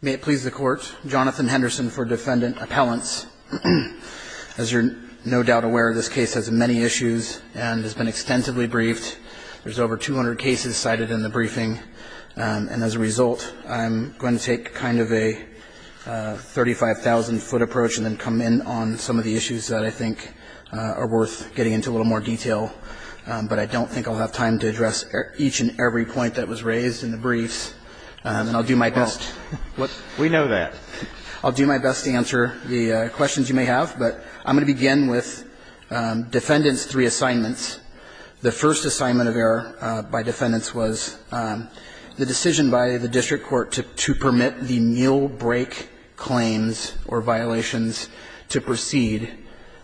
May it please the court Jonathan Henderson for defendant appellants As you're no doubt aware of this case has many issues and has been extensively briefed there's over 200 cases cited in the briefing and as a result, I'm going to take kind of a 35,000 foot approach and then come in on some of the issues that I think are worth getting into a little more detail But I don't think I'll have time to address each and every point that was raised in the briefs And I'll do my best what we know that I'll do my best to answer the questions you may have but I'm going to begin with defendants three assignments the first assignment of error by defendants was The decision by the district court to permit the meal break claims or violations to proceed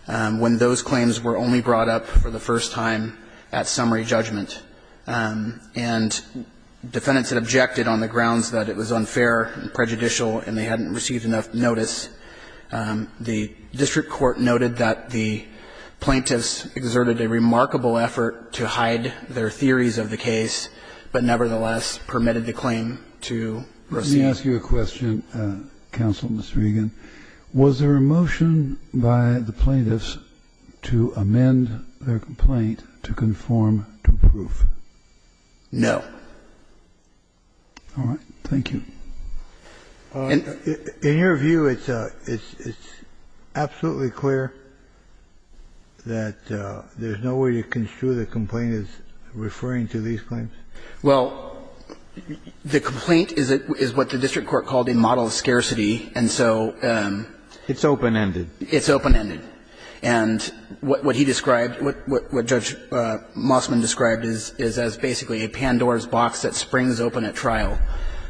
when those claims were only brought up for the first time at summary judgment and Defendants had objected on the grounds that it was unfair and prejudicial and they hadn't received enough notice the district court noted that the Plaintiffs exerted a remarkable effort to hide their theories of the case But nevertheless permitted the claim to proceed. Let me ask you a question Counsel Mr. Regan was there a motion by the plaintiffs to amend their complaint to conform to proof? No Thank you In your view, it's a it's absolutely clear that There's no way to construe the complaint is referring to these claims well The complaint is it is what the district court called a model of scarcity. And so It's open-ended. It's open-ended and What he described what? Judge Mossman described is is as basically a Pandora's box that springs open at trial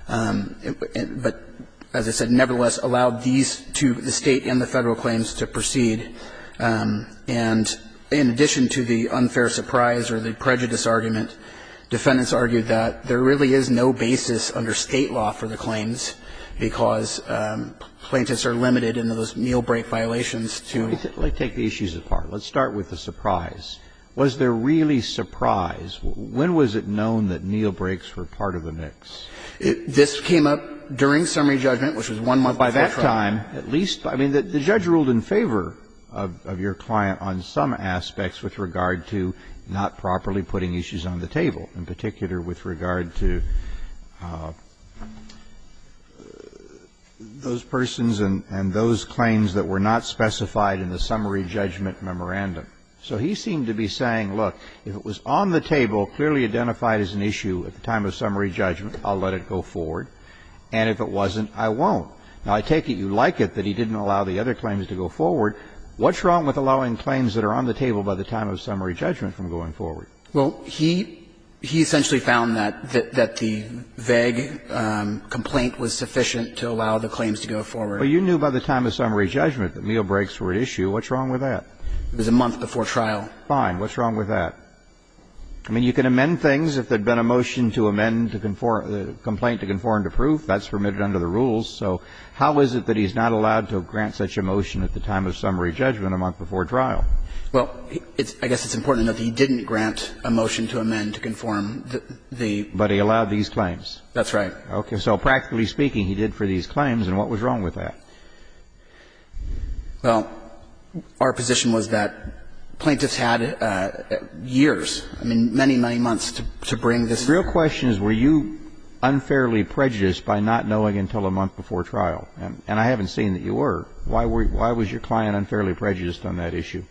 But as I said nevertheless allowed these to the state and the federal claims to proceed and In addition to the unfair surprise or the prejudice argument defendants argued that there really is no basis under state law for the claims because Plaintiffs are limited in those meal break violations to take the issues apart. Let's start with the surprise Was there really surprised when was it known that Neil breaks were part of the mix? This came up during summary judgment, which was one month by that time at least I mean that the judge ruled in favor of your client on some aspects with regard to not properly putting issues on the table in particular with regard to Those persons and and those claims that were not specified in the summary judgment memorandum So he seemed to be saying look if it was on the table clearly identified as an issue at the time of summary judgment I'll let it go forward and if it wasn't I won't now I take it you like it that he didn't allow the other claims to go forward What's wrong with allowing claims that are on the table by the time of summary judgment from going forward? Well, he he essentially found that that the vague Complaint was sufficient to allow the claims to go forward You knew by the time of summary judgment that meal breaks were at issue. What's wrong with that? There's a month before trial fine What's wrong with that? I? Mean you can amend things if there'd been a motion to amend to conform the complaint to conform to proof That's permitted under the rules So how is it that he's not allowed to grant such a motion at the time of summary judgment a month before trial? Well, it's I guess it's important enough. He didn't grant a motion to amend to conform the but he allowed these claims That's right. Okay. So practically speaking he did for these claims and what was wrong with that? Well Our position was that plaintiffs had Years, I mean many many months to bring this real questions. Were you? Unfairly prejudiced by not knowing until a month before trial and I haven't seen that you were why were you why was your client? Unfairly prejudiced on that issue?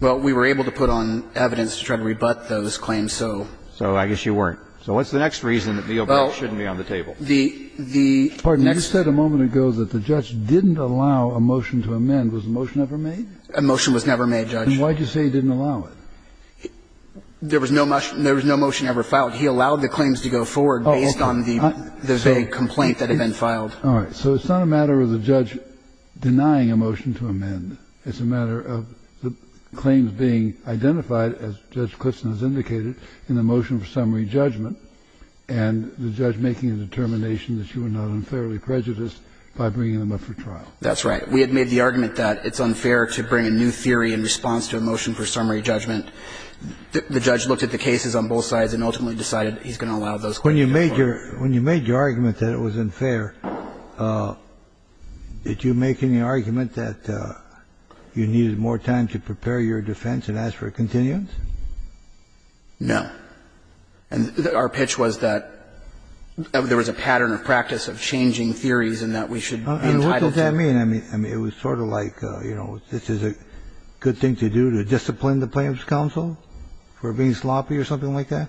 Well, we were able to put on evidence to try to rebut those claims So so I guess you weren't so what's the next reason that the overall shouldn't be on the table? The the next said a moment ago that the judge didn't allow a motion to amend was the motion ever made a motion was never Made judge. Why'd you say he didn't allow it? There was no much. There was no motion ever filed. He allowed the claims to go forward based on the Complaint that had been filed. All right, so it's not a matter of the judge Denying a motion to amend. It's a matter of the claims being identified as judge Fairly prejudiced by bringing them up for trial. That's right We had made the argument that it's unfair to bring a new theory in response to a motion for summary judgment The judge looked at the cases on both sides and ultimately decided he's gonna allow those when you made your when you made your argument That it was unfair Did you make any argument that You needed more time to prepare your defense and ask for a continuance no, and our pitch was that There was a pattern of practice of changing theories and that we should Mean, I mean, I mean it was sort of like, you know This is a good thing to do to discipline the plaintiff's counsel for being sloppy or something like that.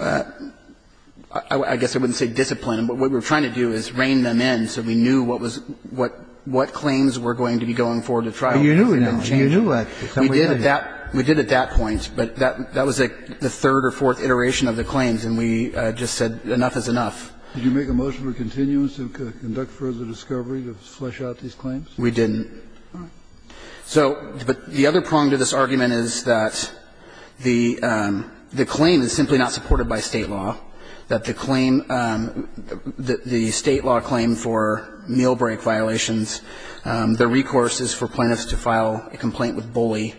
I Guess I wouldn't say discipline But what we're trying to do is rein them in so we knew what was what? What claims were going to be going forward to try you knew you knew what we did at that we did at that point But that that was like the third or fourth iteration of the claims and we just said enough is enough Did you make a motion for continuance to conduct further discovery to flesh out these claims? We didn't so but the other prong to this argument is that The the claim is simply not supported by state law that the claim That the state law claim for meal break violations The recourse is for plaintiffs to file a complaint with bully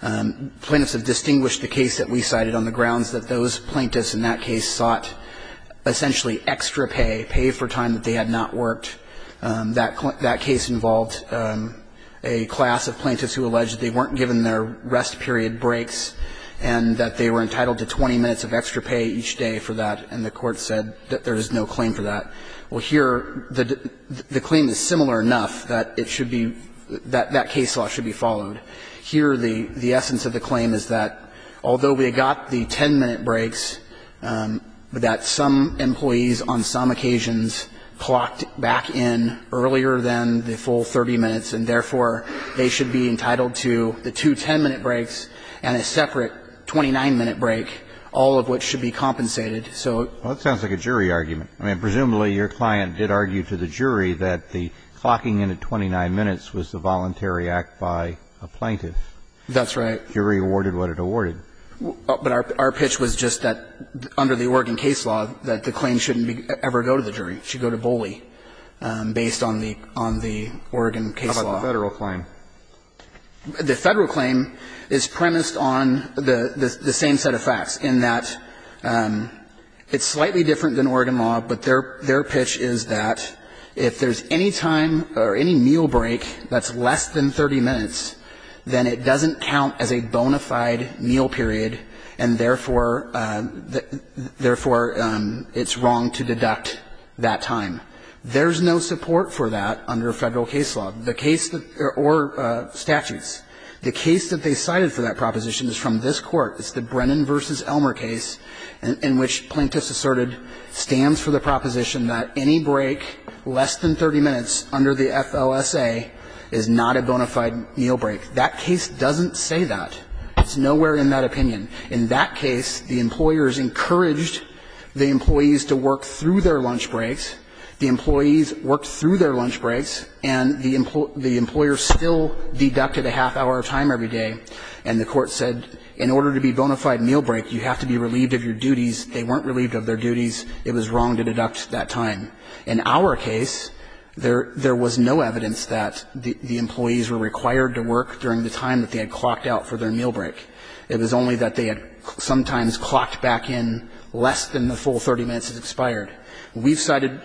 Plaintiffs have distinguished the case that we cited on the grounds that those plaintiffs in that case sought Essentially extra pay pay for time that they had not worked that that case involved a class of plaintiffs who alleged they weren't given their rest period breaks and That they were entitled to 20 minutes of extra pay each day for that and the court said that there is no claim for that Well here the the claim is similar enough that it should be that that case law should be followed Here the the essence of the claim is that although we got the 10-minute breaks But that some employees on some occasions Clocked back in earlier than the full 30 minutes and therefore they should be entitled to the 210 minute breaks and a separate 29 minute break all of which should be compensated. So that sounds like a jury argument I mean presumably your client did argue to the jury that the clocking in at 29 minutes was the voluntary act by Plaintiff, that's right. You're rewarded what it awarded But our pitch was just that under the Oregon case law that the claim shouldn't be ever go to the jury should go to bully Based on the on the Oregon case law federal claim the federal claim is premised on the the same set of facts in that It's slightly different than Oregon law But their their pitch is that if there's any time or any meal break that's less than 30 minutes Then it doesn't count as a bona fide meal period and therefore Therefore it's wrong to deduct that time. There's no support for that under a federal case law the case that or Statutes the case that they cited for that proposition is from this court It's the Brennan versus Elmer case in which plaintiffs asserted stands for the proposition that any break Less than 30 minutes under the FLSA is not a bona fide meal break that case doesn't say that It's nowhere in that opinion in that case the employers encouraged the employees to work through their lunch breaks the employees worked through their lunch breaks and the Employers still deducted a half-hour time every day and the court said in order to be bona fide meal break You have to be relieved of your duties. They weren't relieved of their duties It was wrong to deduct that time in our case There there was no evidence that the employees were required to work during the time that they had clocked out for their meal break It was only that they had sometimes clocked back in less than the full 30 minutes has expired. We've cited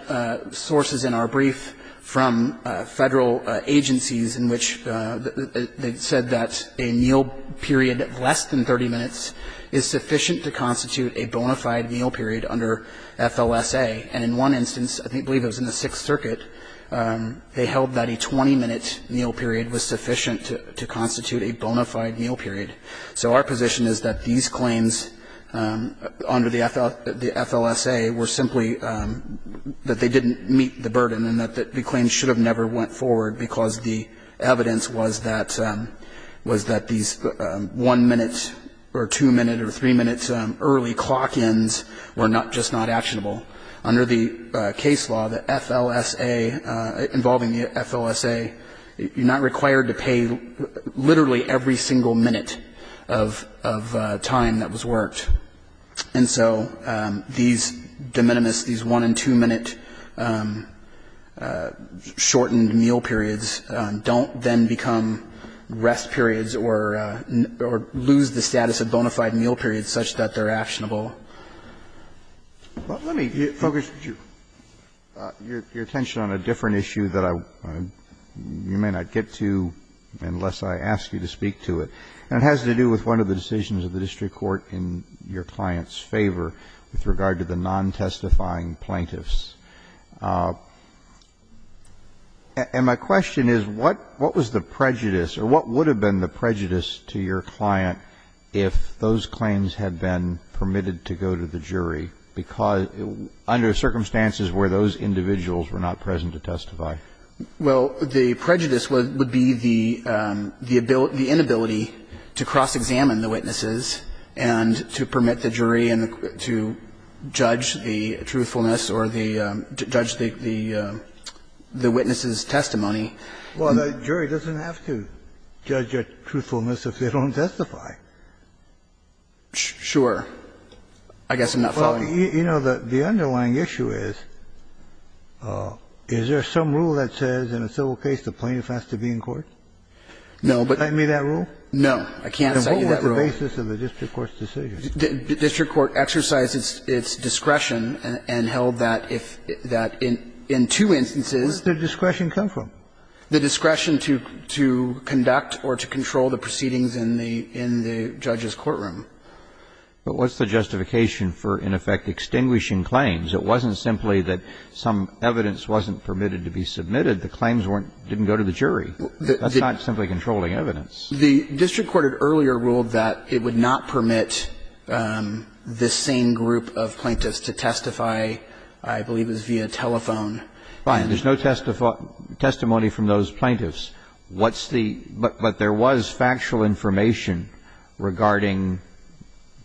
sources in our brief from federal agencies in which They said that a meal period less than 30 minutes is sufficient to constitute a bona fide meal period under FLSA and in one instance, I think believe it was in the Sixth Circuit They held that a 20 minute meal period was sufficient to constitute a bona fide meal period. So our position is that these claims under the FL the FLSA were simply that they didn't meet the burden and that that the claim should have never went forward because the evidence was that Was that these one minute or two minute or three minutes early clock ends were not just not actionable under the case law the FLSA involving the FLSA You're not required to pay literally every single minute of Time that was worked and so these de minimis these one and two minute Shortened meal periods don't then become rest periods or Lose the status of bona fide meal periods such that they're actionable Let me focus your attention on a different issue that I You may not get to Unless I ask you to speak to it and it has to do with one of the decisions of the district court in Your clients favor with regard to the non testifying plaintiffs And my question is what what was the prejudice or what would have been the prejudice to your client if those claims had been permitted to go to the jury because under circumstances where those individuals were not present to testify Well, the prejudice would be the the ability the inability to cross-examine the witnesses and to permit the jury and to judge the truthfulness or the Judge think the The witnesses testimony. Well, the jury doesn't have to judge your truthfulness if they don't testify Sure, I guess enough. Well, you know that the underlying issue is Is there some rule that says in a civil case the plaintiff has to be in court No, but I mean that rule. No, I can't say that the basis of the district court's decision District court exercises its discretion and held that if that in in two instances the discretion come from The discretion to to conduct or to control the proceedings in the in the judge's courtroom But what's the justification for in effect extinguishing claims? It wasn't simply that some evidence wasn't permitted to be submitted. The claims weren't didn't go to the jury That's not simply controlling evidence. The district court had earlier ruled that it would not permit This same group of plaintiffs to testify. I believe is via telephone fine. There's no test of Testimony from those plaintiffs. What's the but but there was factual information regarding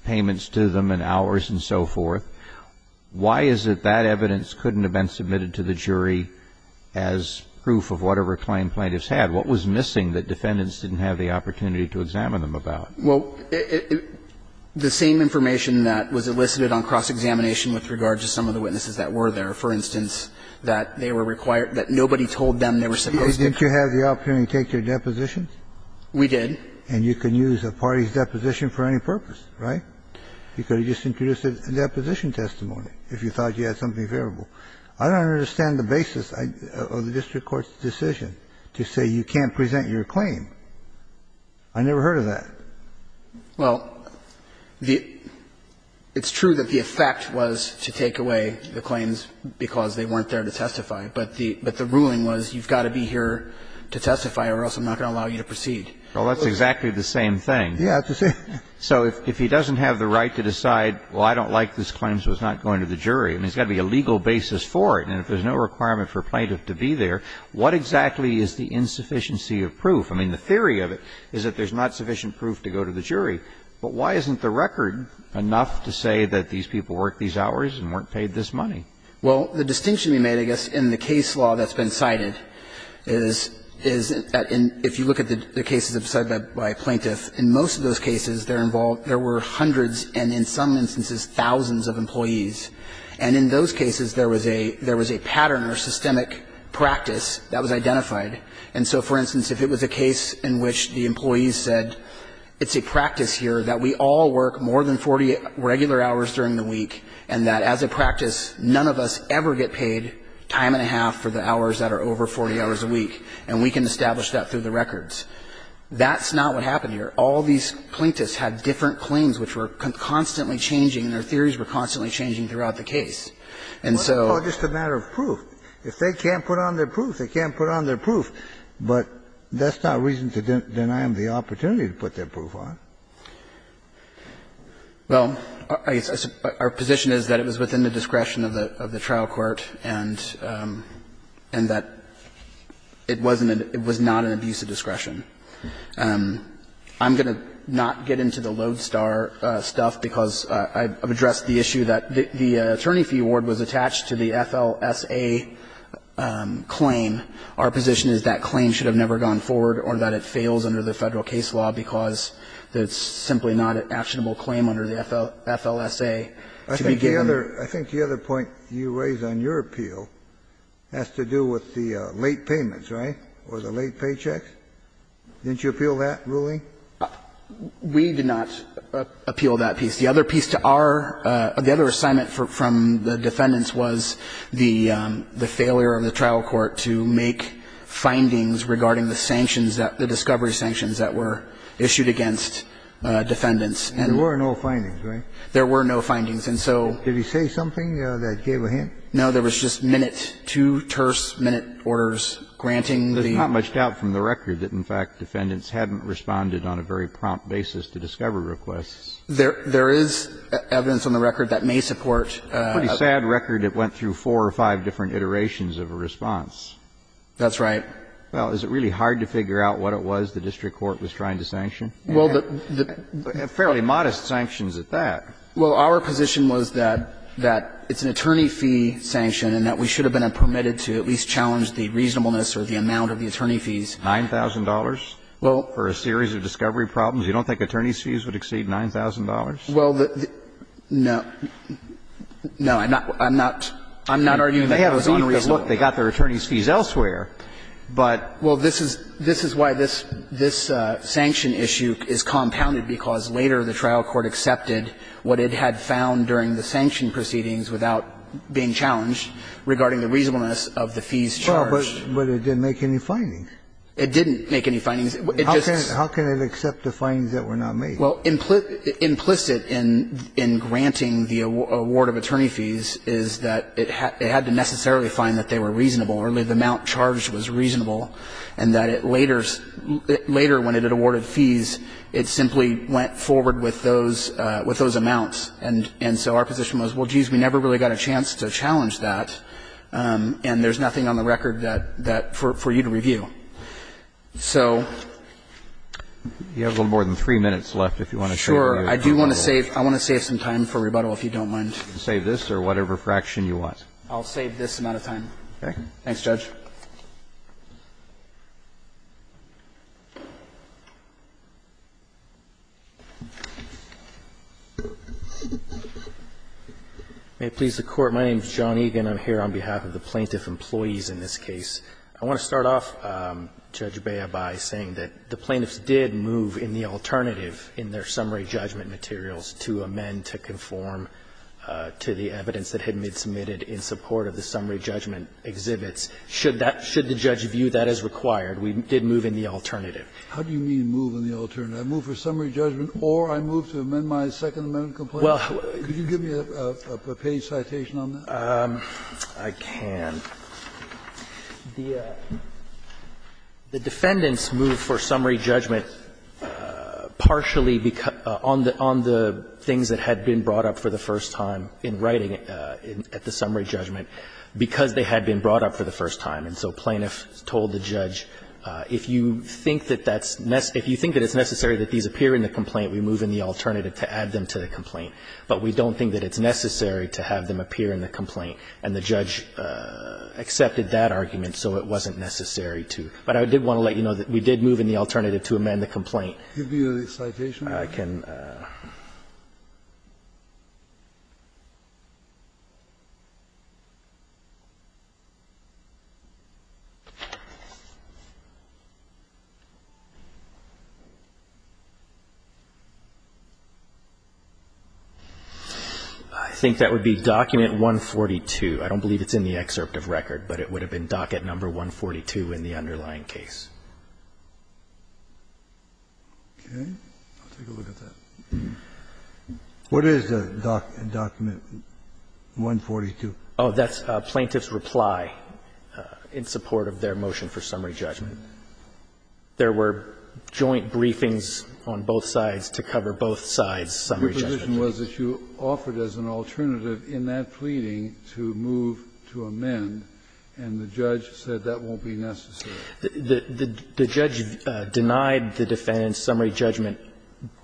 Payments to them and hours and so forth why is it that evidence couldn't have been submitted to the jury as Proof of whatever claim plaintiffs had what was missing that defendants didn't have the opportunity to examine them about well The same information that was elicited on cross-examination with regard to some of the witnesses that were there for instance That they were required that nobody told them they were supposed to did you have the opportunity to take your depositions? We did and you can use a party's deposition for any purpose, right? You could have just introduced a deposition testimony if you thought you had something favorable I don't understand the basis of the district court's decision to say you can't present your claim. I Well the It's true that the effect was to take away the claims because they weren't there to testify But the but the ruling was you've got to be here to testify or else. I'm not gonna allow you to proceed Well, that's exactly the same thing. Yeah, that's the same So if he doesn't have the right to decide well, I don't like this claims was not going to the jury I mean, it's got to be a legal basis for it. And if there's no requirement for plaintiff to be there What exactly is the insufficiency of proof? I mean the theory of it is that there's not sufficient proof to go to the jury But why isn't the record enough to say that these people work these hours and weren't paid this money? well, the distinction we made I guess in the case law that's been cited is Is that in if you look at the cases of said by plaintiff in most of those cases? They're involved there were hundreds and in some instances thousands of employees And in those cases there was a there was a pattern or systemic practice that was identified And so for instance if it was a case in which the employees said It's a practice here that we all work more than 40 regular hours during the week and that as a practice None of us ever get paid time and a half for the hours that are over 40 hours a week And we can establish that through the records That's not what happened here All these plaintiffs had different claims which were constantly changing and their theories were constantly changing throughout the case And so just a matter of proof if they can't put on their proof they can't put on their proof But that's not reason to deny them the opportunity to put their proof on Well, I guess our position is that it was within the discretion of the of the trial court and and that It wasn't it was not an abuse of discretion I'm gonna not get into the lodestar Stuff because I've addressed the issue that the attorney fee award was attached to the FLSA Claim our position is that claim should have never gone forward or that it fails under the federal case law because It's simply not an actionable claim under the FLSA I think the other I think the other point you raise on your appeal Has to do with the late payments right or the late paychecks Didn't you appeal that ruling? We did not appeal that piece the other piece to our the other assignment for from the defendants was the failure of the trial court to make Findings regarding the sanctions that the discovery sanctions that were issued against Defendants and there were no findings, right? There were no findings. And so did he say something that gave a hint? No, there was just minute to terse minute orders granting Much doubt from the record that in fact defendants hadn't responded on a very prompt basis to discover requests there. There is Evidence on the record that may support a sad record that went through four or five different iterations of a response That's right. Well, is it really hard to figure out what it was? The district court was trying to sanction? Well, the Fairly modest sanctions at that Well, our position was that that it's an attorney fee Sanction and that we should have been a permitted to at least challenge the reasonableness or the amount of the attorney fees $9,000 well for a series of discovery problems. You don't think attorneys fees would exceed $9,000. Well the No No, I'm not I'm not I'm not arguing they have a look they got their attorneys fees elsewhere But well, this is this is why this this Sanction issue is compounded because later the trial court accepted what it had found during the sanction proceedings without Being challenged regarding the reasonableness of the fees charged, but it didn't make any findings. It didn't make any findings It just how can it accept the findings that were not made? Well implicit implicit in in granting the award of attorney fees Is that it had to necessarily find that they were reasonable early the amount charged was reasonable and that it later Later when it had awarded fees, it simply went forward with those with those amounts and and so our position was well We've got a chance to challenge that And there's nothing on the record that that for you to review so You have a little more than three minutes left if you want to sure I do want to save I want to save some Time for rebuttal if you don't mind save this or whatever fraction you want. I'll save this amount of time. Okay. Thanks judge May Please the court. My name is John Egan. I'm here on behalf of the plaintiff employees in this case. I want to start off Judge Baya by saying that the plaintiffs did move in the alternative in their summary judgment materials to amend to conform To the evidence that had been submitted in support of the summary judgment exhibits should that should the judge view that as required We did move in the alternative. How do you mean move in the alternative? I move for summary judgment or I move to amend my second amendment complaint. Well, could you give me a page citation on that? I can The defendants move for summary judgment Partially because on the on the things that had been brought up for the first time in writing At the summary judgment because they had been brought up for the first time and so plaintiffs told the judge If you think that that's mess If you think that it's necessary that these appear in the complaint We move in the alternative to add them to the complaint But we don't think that it's necessary to have them appear in the complaint and the judge Accepted that argument so it wasn't necessary to but I did want to let you know that we did move in the alternative to Amend the complaint I can I think that would be document 142. I don't believe it's in the excerpt of record But it would have been docket number 142 in the underlying case Okay What is the doc document 142 oh, that's plaintiff's reply in support of their motion for summary judgment There were joint briefings on both sides to cover both sides Some reason was that you offered as an alternative in that pleading to move to amend And the judge said that won't be necessary The judge denied the defendant's summary judgment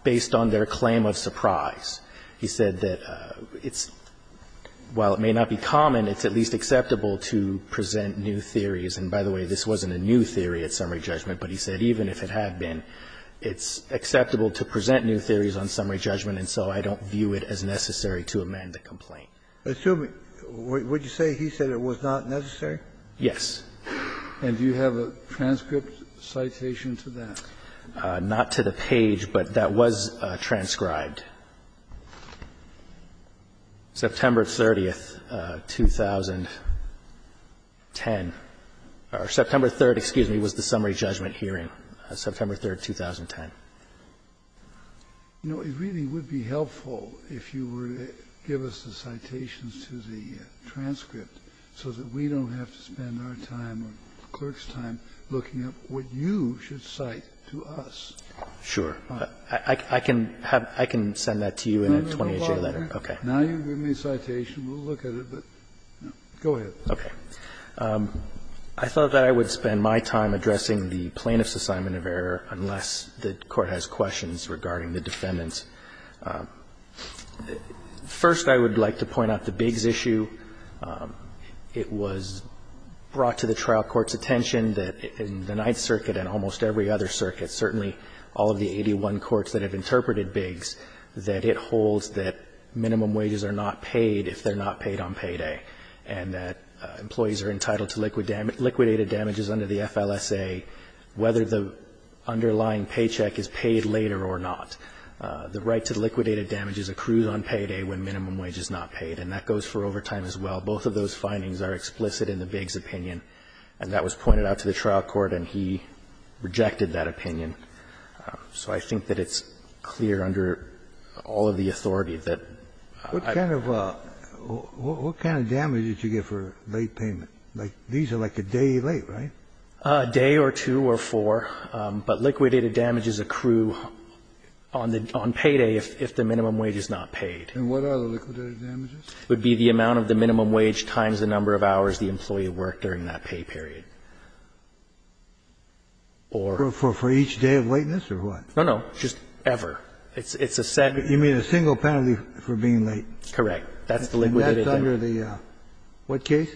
based on their claim of surprise He said that it's While it may not be common It's at least acceptable to present new theories and by the way, this wasn't a new theory at summary judgment But he said even if it had been it's acceptable to present new theories on summary judgment And so I don't view it as necessary to amend the complaint assuming what you say. He said it was not necessary. Yes And do you have a transcript citation to that not to the page but that was transcribed September 30th 2010 or September 3rd, excuse me was the summary judgment hearing September 3rd 2010 You know, it really would be helpful if you were to give us the citations to the Clerk's time looking at what you should cite to us Sure, I can have I can send that to you in a 28-day letter. Okay. Now you give me a citation. We'll look at it Go ahead. Okay. I Thought that I would spend my time addressing the plaintiff's assignment of error unless the court has questions regarding the defendants First I would like to point out the Biggs issue it was Brought to the trial courts attention that in the Ninth Circuit and almost every other circuit certainly all of the 81 courts that have interpreted Biggs that it holds that minimum wages are not paid if they're not paid on payday and that Employees are entitled to liquid damage liquidated damages under the FLSA Whether the underlying paycheck is paid later or not The right to liquidated damage is accrued on payday when minimum wage is not paid and that goes for overtime as well Both of those findings are explicit in the Biggs opinion and that was pointed out to the trial court and he Rejected that opinion So I think that it's clear under all of the authority that what kind of well What kind of damage did you get for late payment? Like these are like a day late, right? Day or two or four but liquidated damages accrue On the on payday if the minimum wage is not paid Would be the amount of the minimum wage times the number of hours the employee worked during that pay period Or for for each day of lateness or what no no just ever it's it's a set you mean a single penalty for being late Correct. That's the liquid under the What case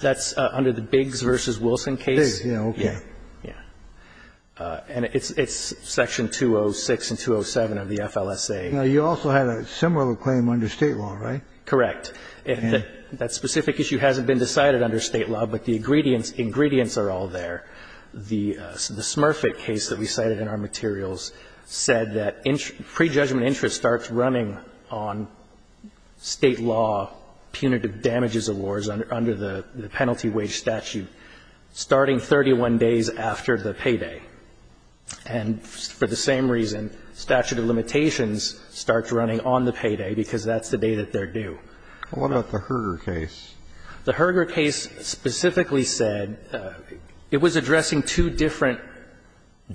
that's under the Biggs versus Wilson case. Yeah. Yeah And it's it's section 206 and 207 of the FLSA, you know, you also had a similar claim under state law, right? correct, and that specific issue hasn't been decided under state law, but the ingredients ingredients are all there the Smurfett case that we cited in our materials said that in pre-judgment interest starts running on state law punitive damages awards under the penalty wage statute Starting 31 days after the payday and For the same reason statute of limitations starts running on the payday because that's the day that they're due What about the Herger case the Herger case? specifically said It was addressing two different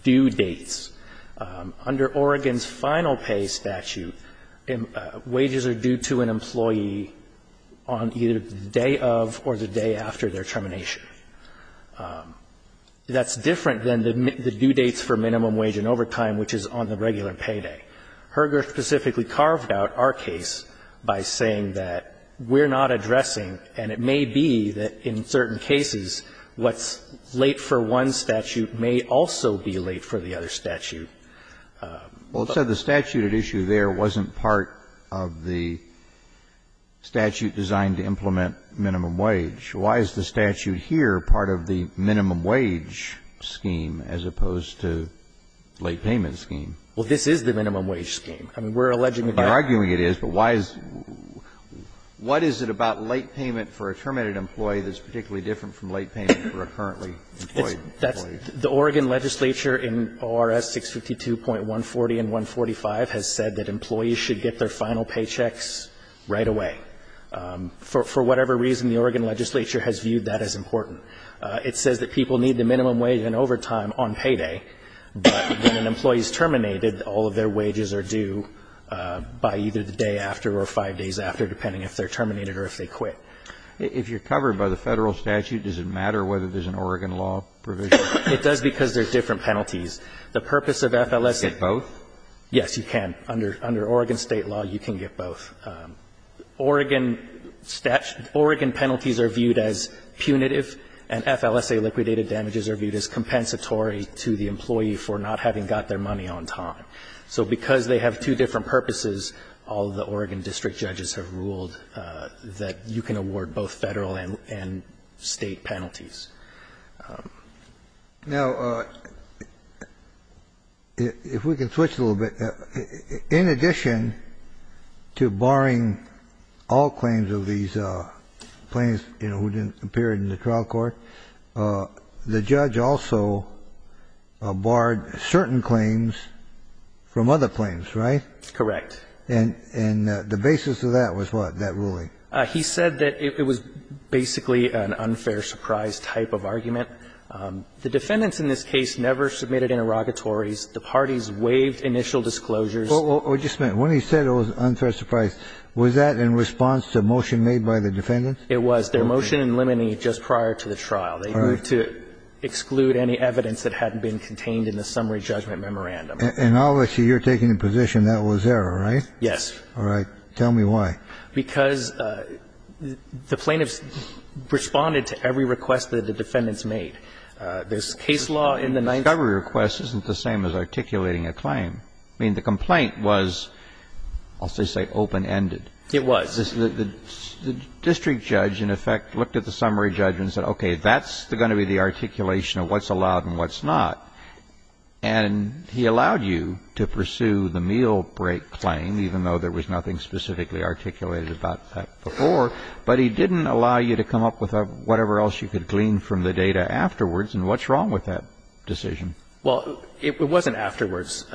due dates under Oregon's final pay statute and Wages are due to an employee on either day of or the day after their termination That's different than the due dates for minimum wage and overtime, which is on the regular payday Herger specifically carved out our case by saying that we're not addressing and it may be that in certain cases What's late for one statute may also be late for the other statute well, it said the statute at issue there wasn't part of the Statute designed to implement minimum wage. Why is the statute here part of the minimum wage? scheme as opposed to Late payment scheme. Well, this is the minimum wage scheme. I mean, we're alleging that arguing it is but why is What is it about late payment for a terminated employee that's particularly different from late payment for a currently? That's the Oregon legislature in or s 652 point 140 and 145 has said that employees should get their final paychecks right away For whatever reason the Oregon legislature has viewed that as important It says that people need the minimum wage and overtime on payday When an employee is terminated all of their wages are due By either the day after or five days after depending if they're terminated or if they quit If you're covered by the federal statute, does it matter whether there's an Oregon law provision? It does because there's different penalties the purpose of FLS at both. Yes, you can under under Oregon state law You can get both Oregon Statute Oregon penalties are viewed as punitive and FLSA liquidated damages are viewed as Compensatory to the employee for not having got their money on time So because they have two different purposes all the Oregon district judges have ruled That you can award both federal and state penalties Now If we can switch a little bit in addition to barring all claims of these Plains, you know who didn't appear in the trial court? the judge also barred certain claims From other planes, right? It's correct. And and the basis of that was what that ruling he said that it was Basically an unfair surprise type of argument The defendants in this case never submitted interrogatories the parties waived initial disclosures Or just meant when he said it was unfair surprise was that in response to motion made by the defendants It was their motion in limine just prior to the trial. They were to Exclude any evidence that hadn't been contained in the summary judgment memorandum and all I see you're taking a position that was there All right. Yes. All right. Tell me why because the plaintiffs Responded to every request that the defendants made This case law in the night every request isn't the same as articulating a claim. I mean the complaint was I'll say say open-ended it was District judge in effect looked at the summary judgments that okay, that's the gonna be the articulation of what's allowed and what's not and He allowed you to pursue the meal break claim, even though there was nothing specifically articulated about that before But he didn't allow you to come up with a whatever else you could glean from the data afterwards and what's wrong with that Decision. Well, it wasn't afterwards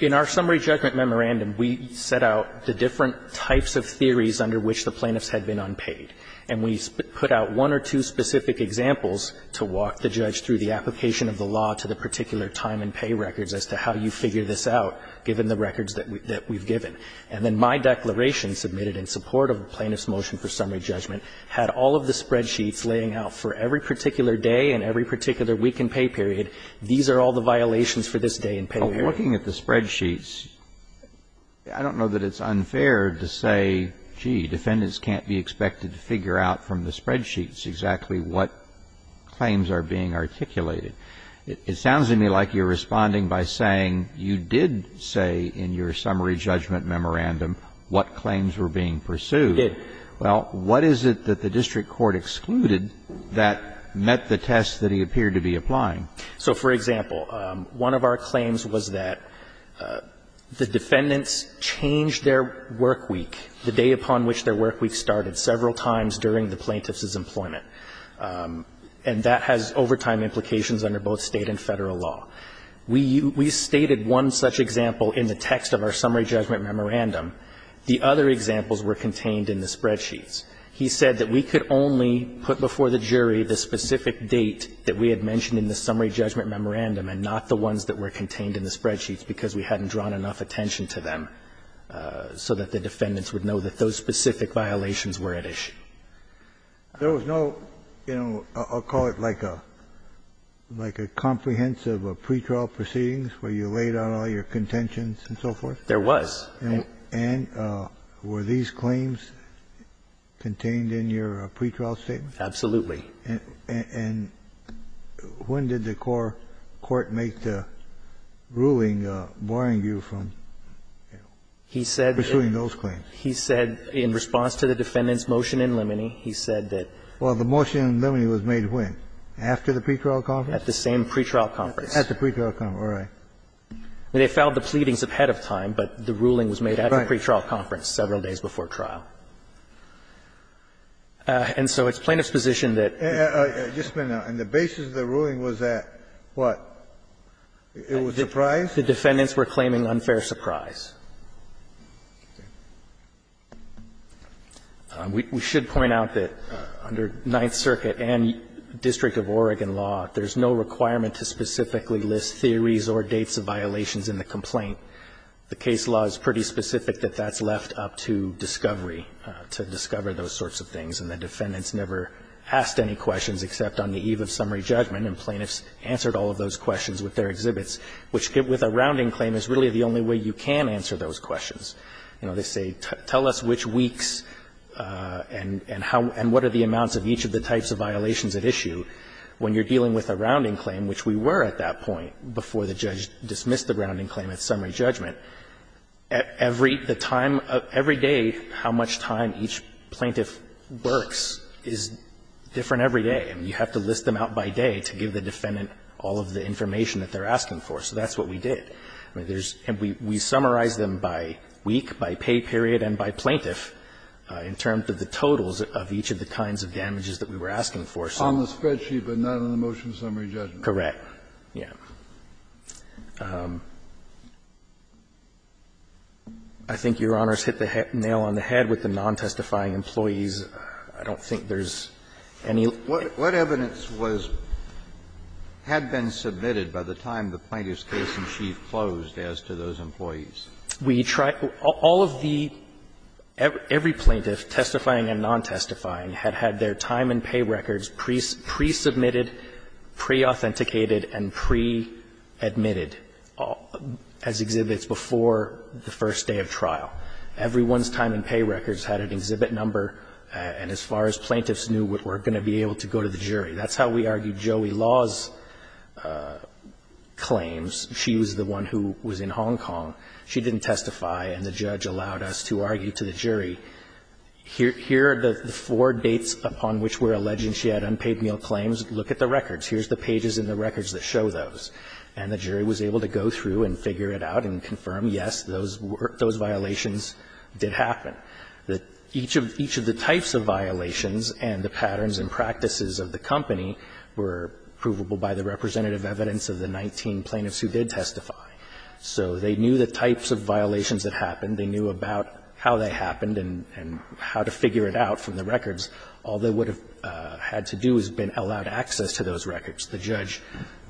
In our summary judgment memorandum We set out the different types of theories under which the plaintiffs had been unpaid and we put out one or two specific Examples to walk the judge through the application of the law to the particular time and pay records as to how you figure this out Given the records that we've given and then my declaration submitted in support of a plaintiff's motion for summary judgment Had all of the spreadsheets laying out for every particular day and every particular week and pay period These are all the violations for this day in pain. We're looking at the spreadsheets. I Don't know that it's unfair to say gee defendants can't be expected to figure out from the spreadsheets exactly what? Claims are being articulated It sounds to me like you're responding by saying you did say in your summary judgment memorandum What claims were being pursued? Well, what is it that the district court excluded that met the tests that he appeared to be applying? so for example, one of our claims was that The defendants changed their work week the day upon which their work week started several times during the plaintiff's employment And that has overtime implications under both state and federal law We we stated one such example in the text of our summary judgment memorandum The other examples were contained in the spreadsheets He said that we could only put before the jury the specific date that we had mentioned in the summary judgment Memorandum and not the ones that were contained in the spreadsheets because we hadn't drawn enough attention to them So that the defendants would know that those specific violations were at issue There was no, you know, I'll call it like a Like a comprehensive of pretrial proceedings where you laid out all your contentions and so forth. There was and Were these claims? contained in your pretrial statement, absolutely and when did the core court make the ruling barring you from He said pursuing those claims he said in response to the defendants motion in limine He said that well the motion limine was made win after the pretrial call at the same pretrial conference at the pretrial come. All right They fouled the pleadings of head of time, but the ruling was made at a pretrial conference several days before trial And so it's plaintiff's position that And the basis of the ruling was that what? It was a prize the defendants were claiming unfair surprise We should point out that under Ninth Circuit and District of Oregon law, there's no requirement to specifically list theories or dates of violations in the complaint The case law is pretty specific that that's left up to discovery To discover those sorts of things and the defendants never Asked any questions except on the eve of summary judgment and plaintiffs answered all of those questions with their exhibits Which get with a rounding claim is really the only way you can answer those questions. You know, they say tell us which weeks And and how and what are the amounts of each of the types of violations at issue? When you're dealing with a rounding claim, which we were at that point before the judge dismissed the grounding claim at summary judgment Every the time of every day how much time each plaintiff works is Different every day and you have to list them out by day to give the defendant all of the information that they're asking for So that's what we did. I mean, there's and we summarize them by week by pay period and by plaintiff In terms of the totals of each of the kinds of damages that we were asking for So on the spreadsheet, but not on the motion summary judgment, correct? Yeah I think your honors hit the nail on the head with the non-testifying employees. I don't think there's any what what evidence was Had been submitted by the time the plaintiff's case-in-chief closed as to those employees. We try all of the Every plaintiff testifying and non-testifying had had their time and pay records priest pre-submitted pre-authenticated and pre-admitted As exhibits before the first day of trial Everyone's time and pay records had an exhibit number And as far as plaintiffs knew what we're going to be able to go to the jury, that's how we argued Joey Law's Claims she was the one who was in Hong Kong. She didn't testify and the judge allowed us to argue to the jury Here here the four dates upon which we're alleging. She had unpaid meal claims. Look at the records Here's the pages in the records that show those and the jury was able to go through and figure it out and confirm Yes Those were those violations did happen that each of each of the types of violations and the patterns and practices Of the company were provable by the representative evidence of the 19 plaintiffs who did testify So they knew the types of violations that happened They knew about how they happened and and how to figure it out from the records All they would have had to do has been allowed access to those records. The judge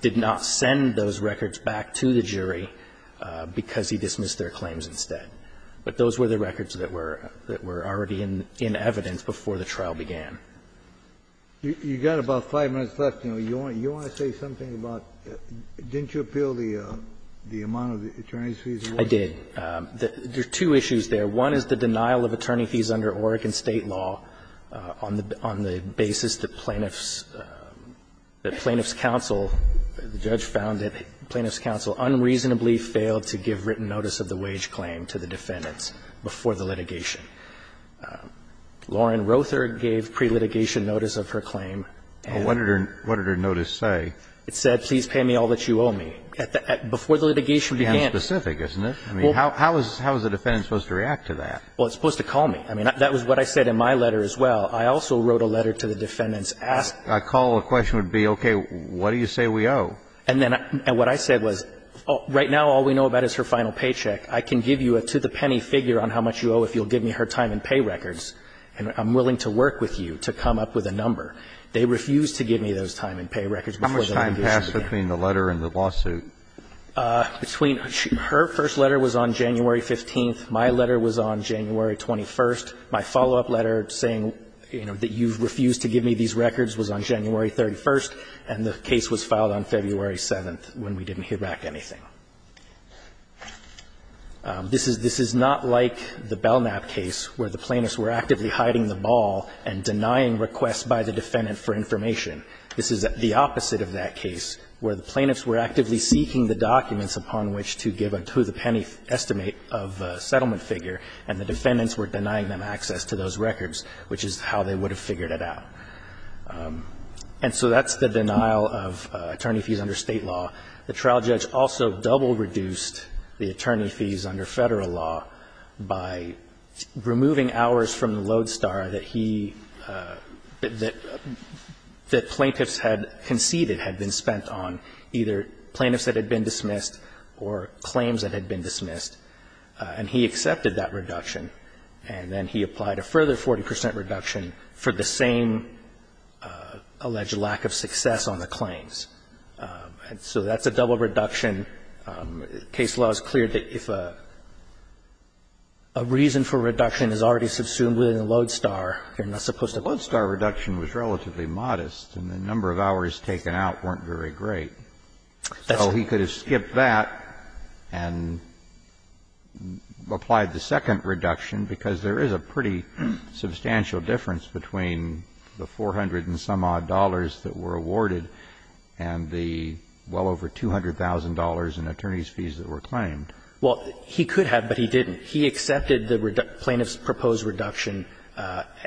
did not send those records back to the jury Because he dismissed their claims instead, but those were the records that were that were already in in evidence before the trial began You got about five minutes left. You know, you want you want to say something about Didn't you appeal the the amount of the attorneys fees? I did There are two issues there. One is the denial of attorney fees under Oregon state law on the on the basis that plaintiffs that plaintiffs counsel The judge found that plaintiffs counsel unreasonably failed to give written notice of the wage claim to the defendants before the litigation Lauren Rother gave pre-litigation notice of her claim. What did her notice say? It said please pay me all that you owe me at the before the litigation began specific, isn't it? I mean, how is how is the defendant supposed to react to that? Well, it's supposed to call me I mean that was what I said in my letter as well. I also wrote a letter to the defendants asked I call a question would be okay What do you say we owe and then and what I said was oh right now all we know about is her final paycheck I can give you a to-the-penny figure on how much you owe if you'll give me her time and pay records and I'm willing to work with you to come up with a number They refused to give me those time and pay records before the time passed between the letter and the lawsuit Between her first letter was on January 15th My letter was on January 21st my follow-up letter saying, you know That you've refused to give me these records was on January 31st And the case was filed on February 7th when we didn't hear back anything This is this is not like the Belknap case where the plaintiffs were actively hiding the ball and Denying requests by the defendant for information This is the opposite of that case where the plaintiffs were actively seeking the documents upon which to give a to-the-penny Estimate of settlement figure and the defendants were denying them access to those records, which is how they would have figured it out And so that's the denial of attorney fees under state law the trial judge also double reduced the attorney fees under federal law by removing hours from the lodestar that he that that plaintiffs had conceded had been spent on either plaintiffs that had been dismissed or Claims that had been dismissed and he accepted that reduction and then he applied a further 40% reduction for the same Alleged lack of success on the claims and so that's a double reduction case law is clear that if a Reason for reduction is already subsumed within the lodestar You're not supposed to blood star reduction was relatively modest and the number of hours taken out weren't very great that's how he could have skipped that and Applied the second reduction because there is a pretty substantial difference between the four hundred and some odd dollars that were awarded and The well over two hundred thousand dollars in attorneys fees that were claimed Well, he could have but he didn't he accepted the plaintiffs proposed reduction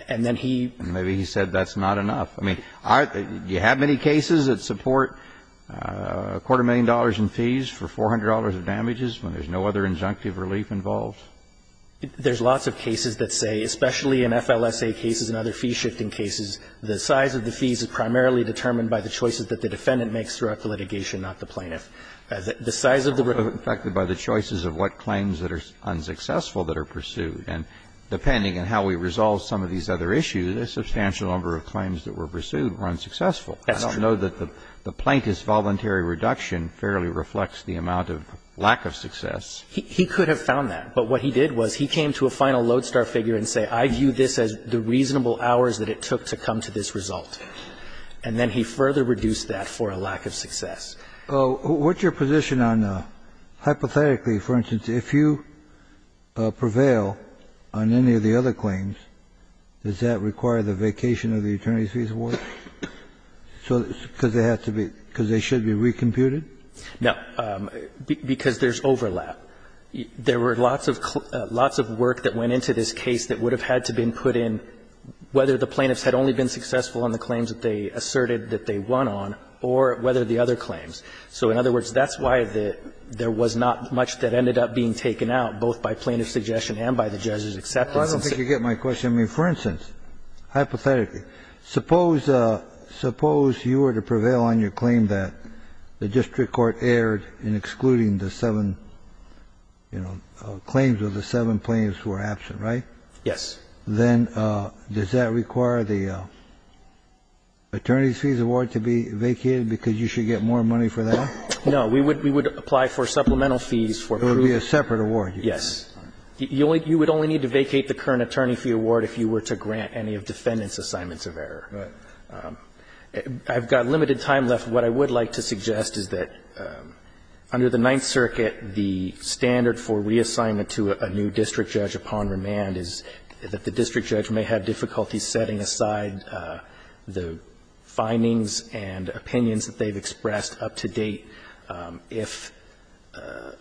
and then he maybe he said that's not enough I mean, I you have many cases that support a quarter million dollars in fees for $400 of damages when there's no other injunctive relief involved There's lots of cases that say especially in FLSA cases and other fee shifting cases The size of the fees is primarily determined by the choices that the defendant makes throughout the litigation not the plaintiff the size of the affected by the choices of what claims that are unsuccessful that are pursued and Depending on how we resolve some of these other issues a substantial number of claims that were pursued were unsuccessful I don't know that the the plaintiff's voluntary reduction fairly reflects the amount of lack of success He could have found that but what he did was he came to a final lodestar figure and say I view this as the Reasonable hours that it took to come to this result and then he further reduced that for a lack of success What's your position on? hypothetically for instance if you Prevail on any of the other claims. Does that require the vacation of the attorney's fees award? So because they have to be because they should be recomputed. No Because there's overlap There were lots of lots of work that went into this case that would have had to been put in Whether the plaintiffs had only been successful on the claims that they asserted that they won on or whether the other claims So in other words, that's why the there was not much that ended up being taken out both by plaintiff's suggestion and by the judges Except I don't think you get my question. I mean for instance hypothetically suppose Suppose you were to prevail on your claim that the district court erred in excluding the seven You know claims of the seven planes were absent, right? Yes, then does that require the Attorney's fees award to be vacated because you should get more money for that No, we would we would apply for supplemental fees for it would be a separate award. Yes You would only need to vacate the current attorney fee award if you were to grant any of defendants assignments of error I've got limited time left. What I would like to suggest is that under the Ninth Circuit the Standard for reassignment to a new district judge upon remand is that the district judge may have difficulty setting aside the findings and opinions that they've expressed up to date if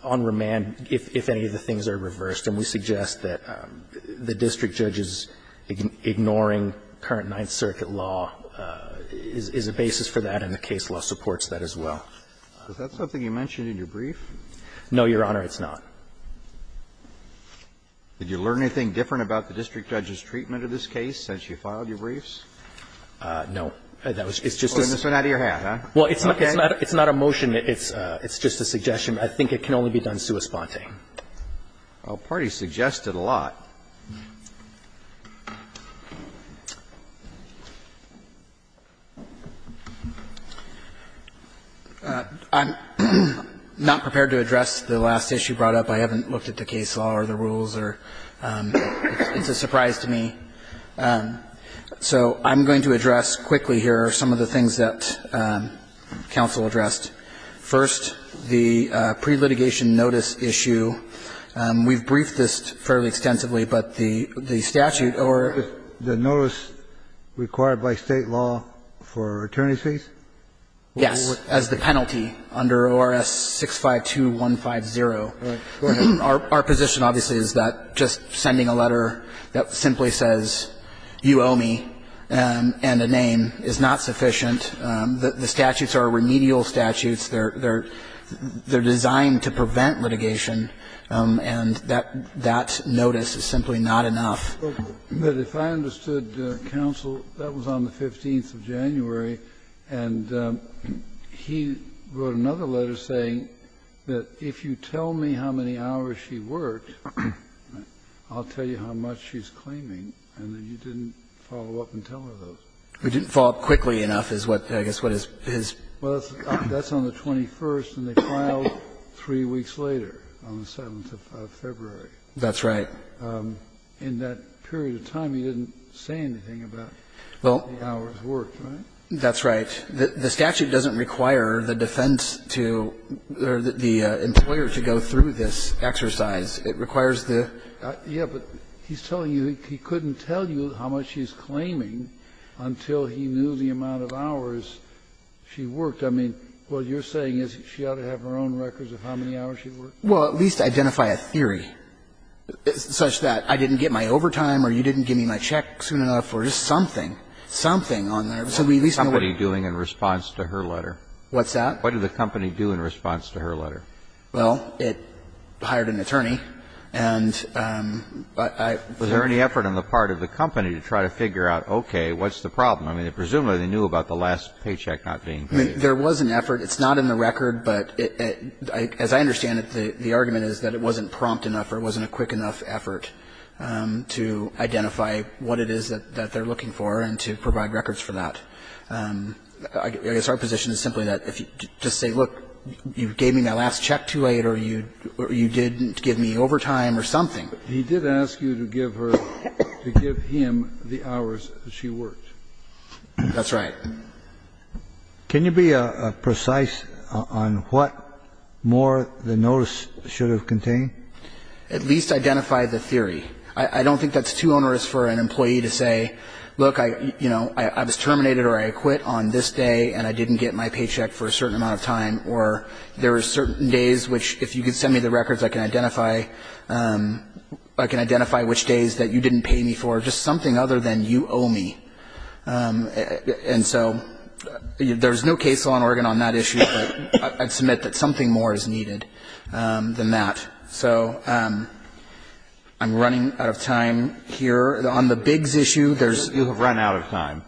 on remand if any of the things are reversed and we suggest that the district judges ignoring current Ninth Circuit law Is a basis for that in the case law supports that as well Is that something you mentioned in your brief? No, your honor, it's not Did you learn anything different about the district judge's treatment of this case since you filed your briefs No, that was it's just an out of your hand. Well, it's not it's not a motion. It's it's just a suggestion I think it can only be done sui sponte Well party suggested a lot I'm Not prepared to address the last issue brought up I haven't looked at the case law or the rules or It's a surprise to me so I'm going to address quickly here are some of the things that counsel addressed first the pre-litigation notice issue We've briefed this fairly extensively, but the the statute or the notice required by state law for attorney's fees Yes as the penalty under ORS 652150 Our position obviously is that just sending a letter that simply says you owe me And a name is not sufficient. The statutes are remedial statutes. They're they're Designed to prevent litigation and that that notice is simply not enough but if I understood counsel that was on the 15th of January and He wrote another letter saying that if you tell me how many hours she worked I'll tell you how much she's claiming and then you didn't follow up and tell her those We didn't follow up quickly enough is what I guess what is his well, that's on the 21st and they filed Three weeks later on the 7th of February. That's right In that period of time, he didn't say anything about well That's right. The statute doesn't require the defense to The employer to go through this exercise. It requires the yeah, but he's telling you he couldn't tell you how much she's claiming Until he knew the amount of hours She worked I mean what you're saying is she ought to have her own records of how many hours she worked Well, at least identify a theory Such that I didn't get my overtime or you didn't give me my check soon enough or just something Something on there. So we at least somebody doing in response to her letter. What's that? What did the company do in response to her letter? Well, it hired an attorney and But I was there any effort on the part of the company to try to figure out okay, what's the problem? Presumably they knew about the last paycheck not being there was an effort It's not in the record, but it as I understand it the the argument is that it wasn't prompt enough It wasn't a quick enough effort To identify what it is that that they're looking for and to provide records for that It's our position is simply that if you just say look you gave me my last check too late or you You didn't give me overtime or something. He did ask you to give her to give him the hours she worked That's right Can you be a precise on what? More the notice should have contained at least identify the theory I don't think that's too onerous for an employee to say look I you know I was terminated or I quit on this day and I didn't get my paycheck for a certain amount of time or There are certain days which if you could send me the records I can identify I can identify which days that you didn't pay me for just something other than you owe me And so There's no case law in Oregon on that issue. I'd submit that something more is needed than that. So I'm running out of time here on the bigs issue. There's you have run out of time.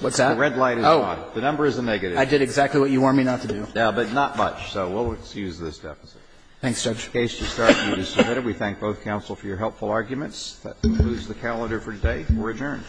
What's that red light? Oh, the number is a negative. I did exactly what you want me not to do now, but not much So we'll excuse this deficit. Thanks judge case to start We thank both counsel for your helpful arguments that moves the calendar for today. We're adjourned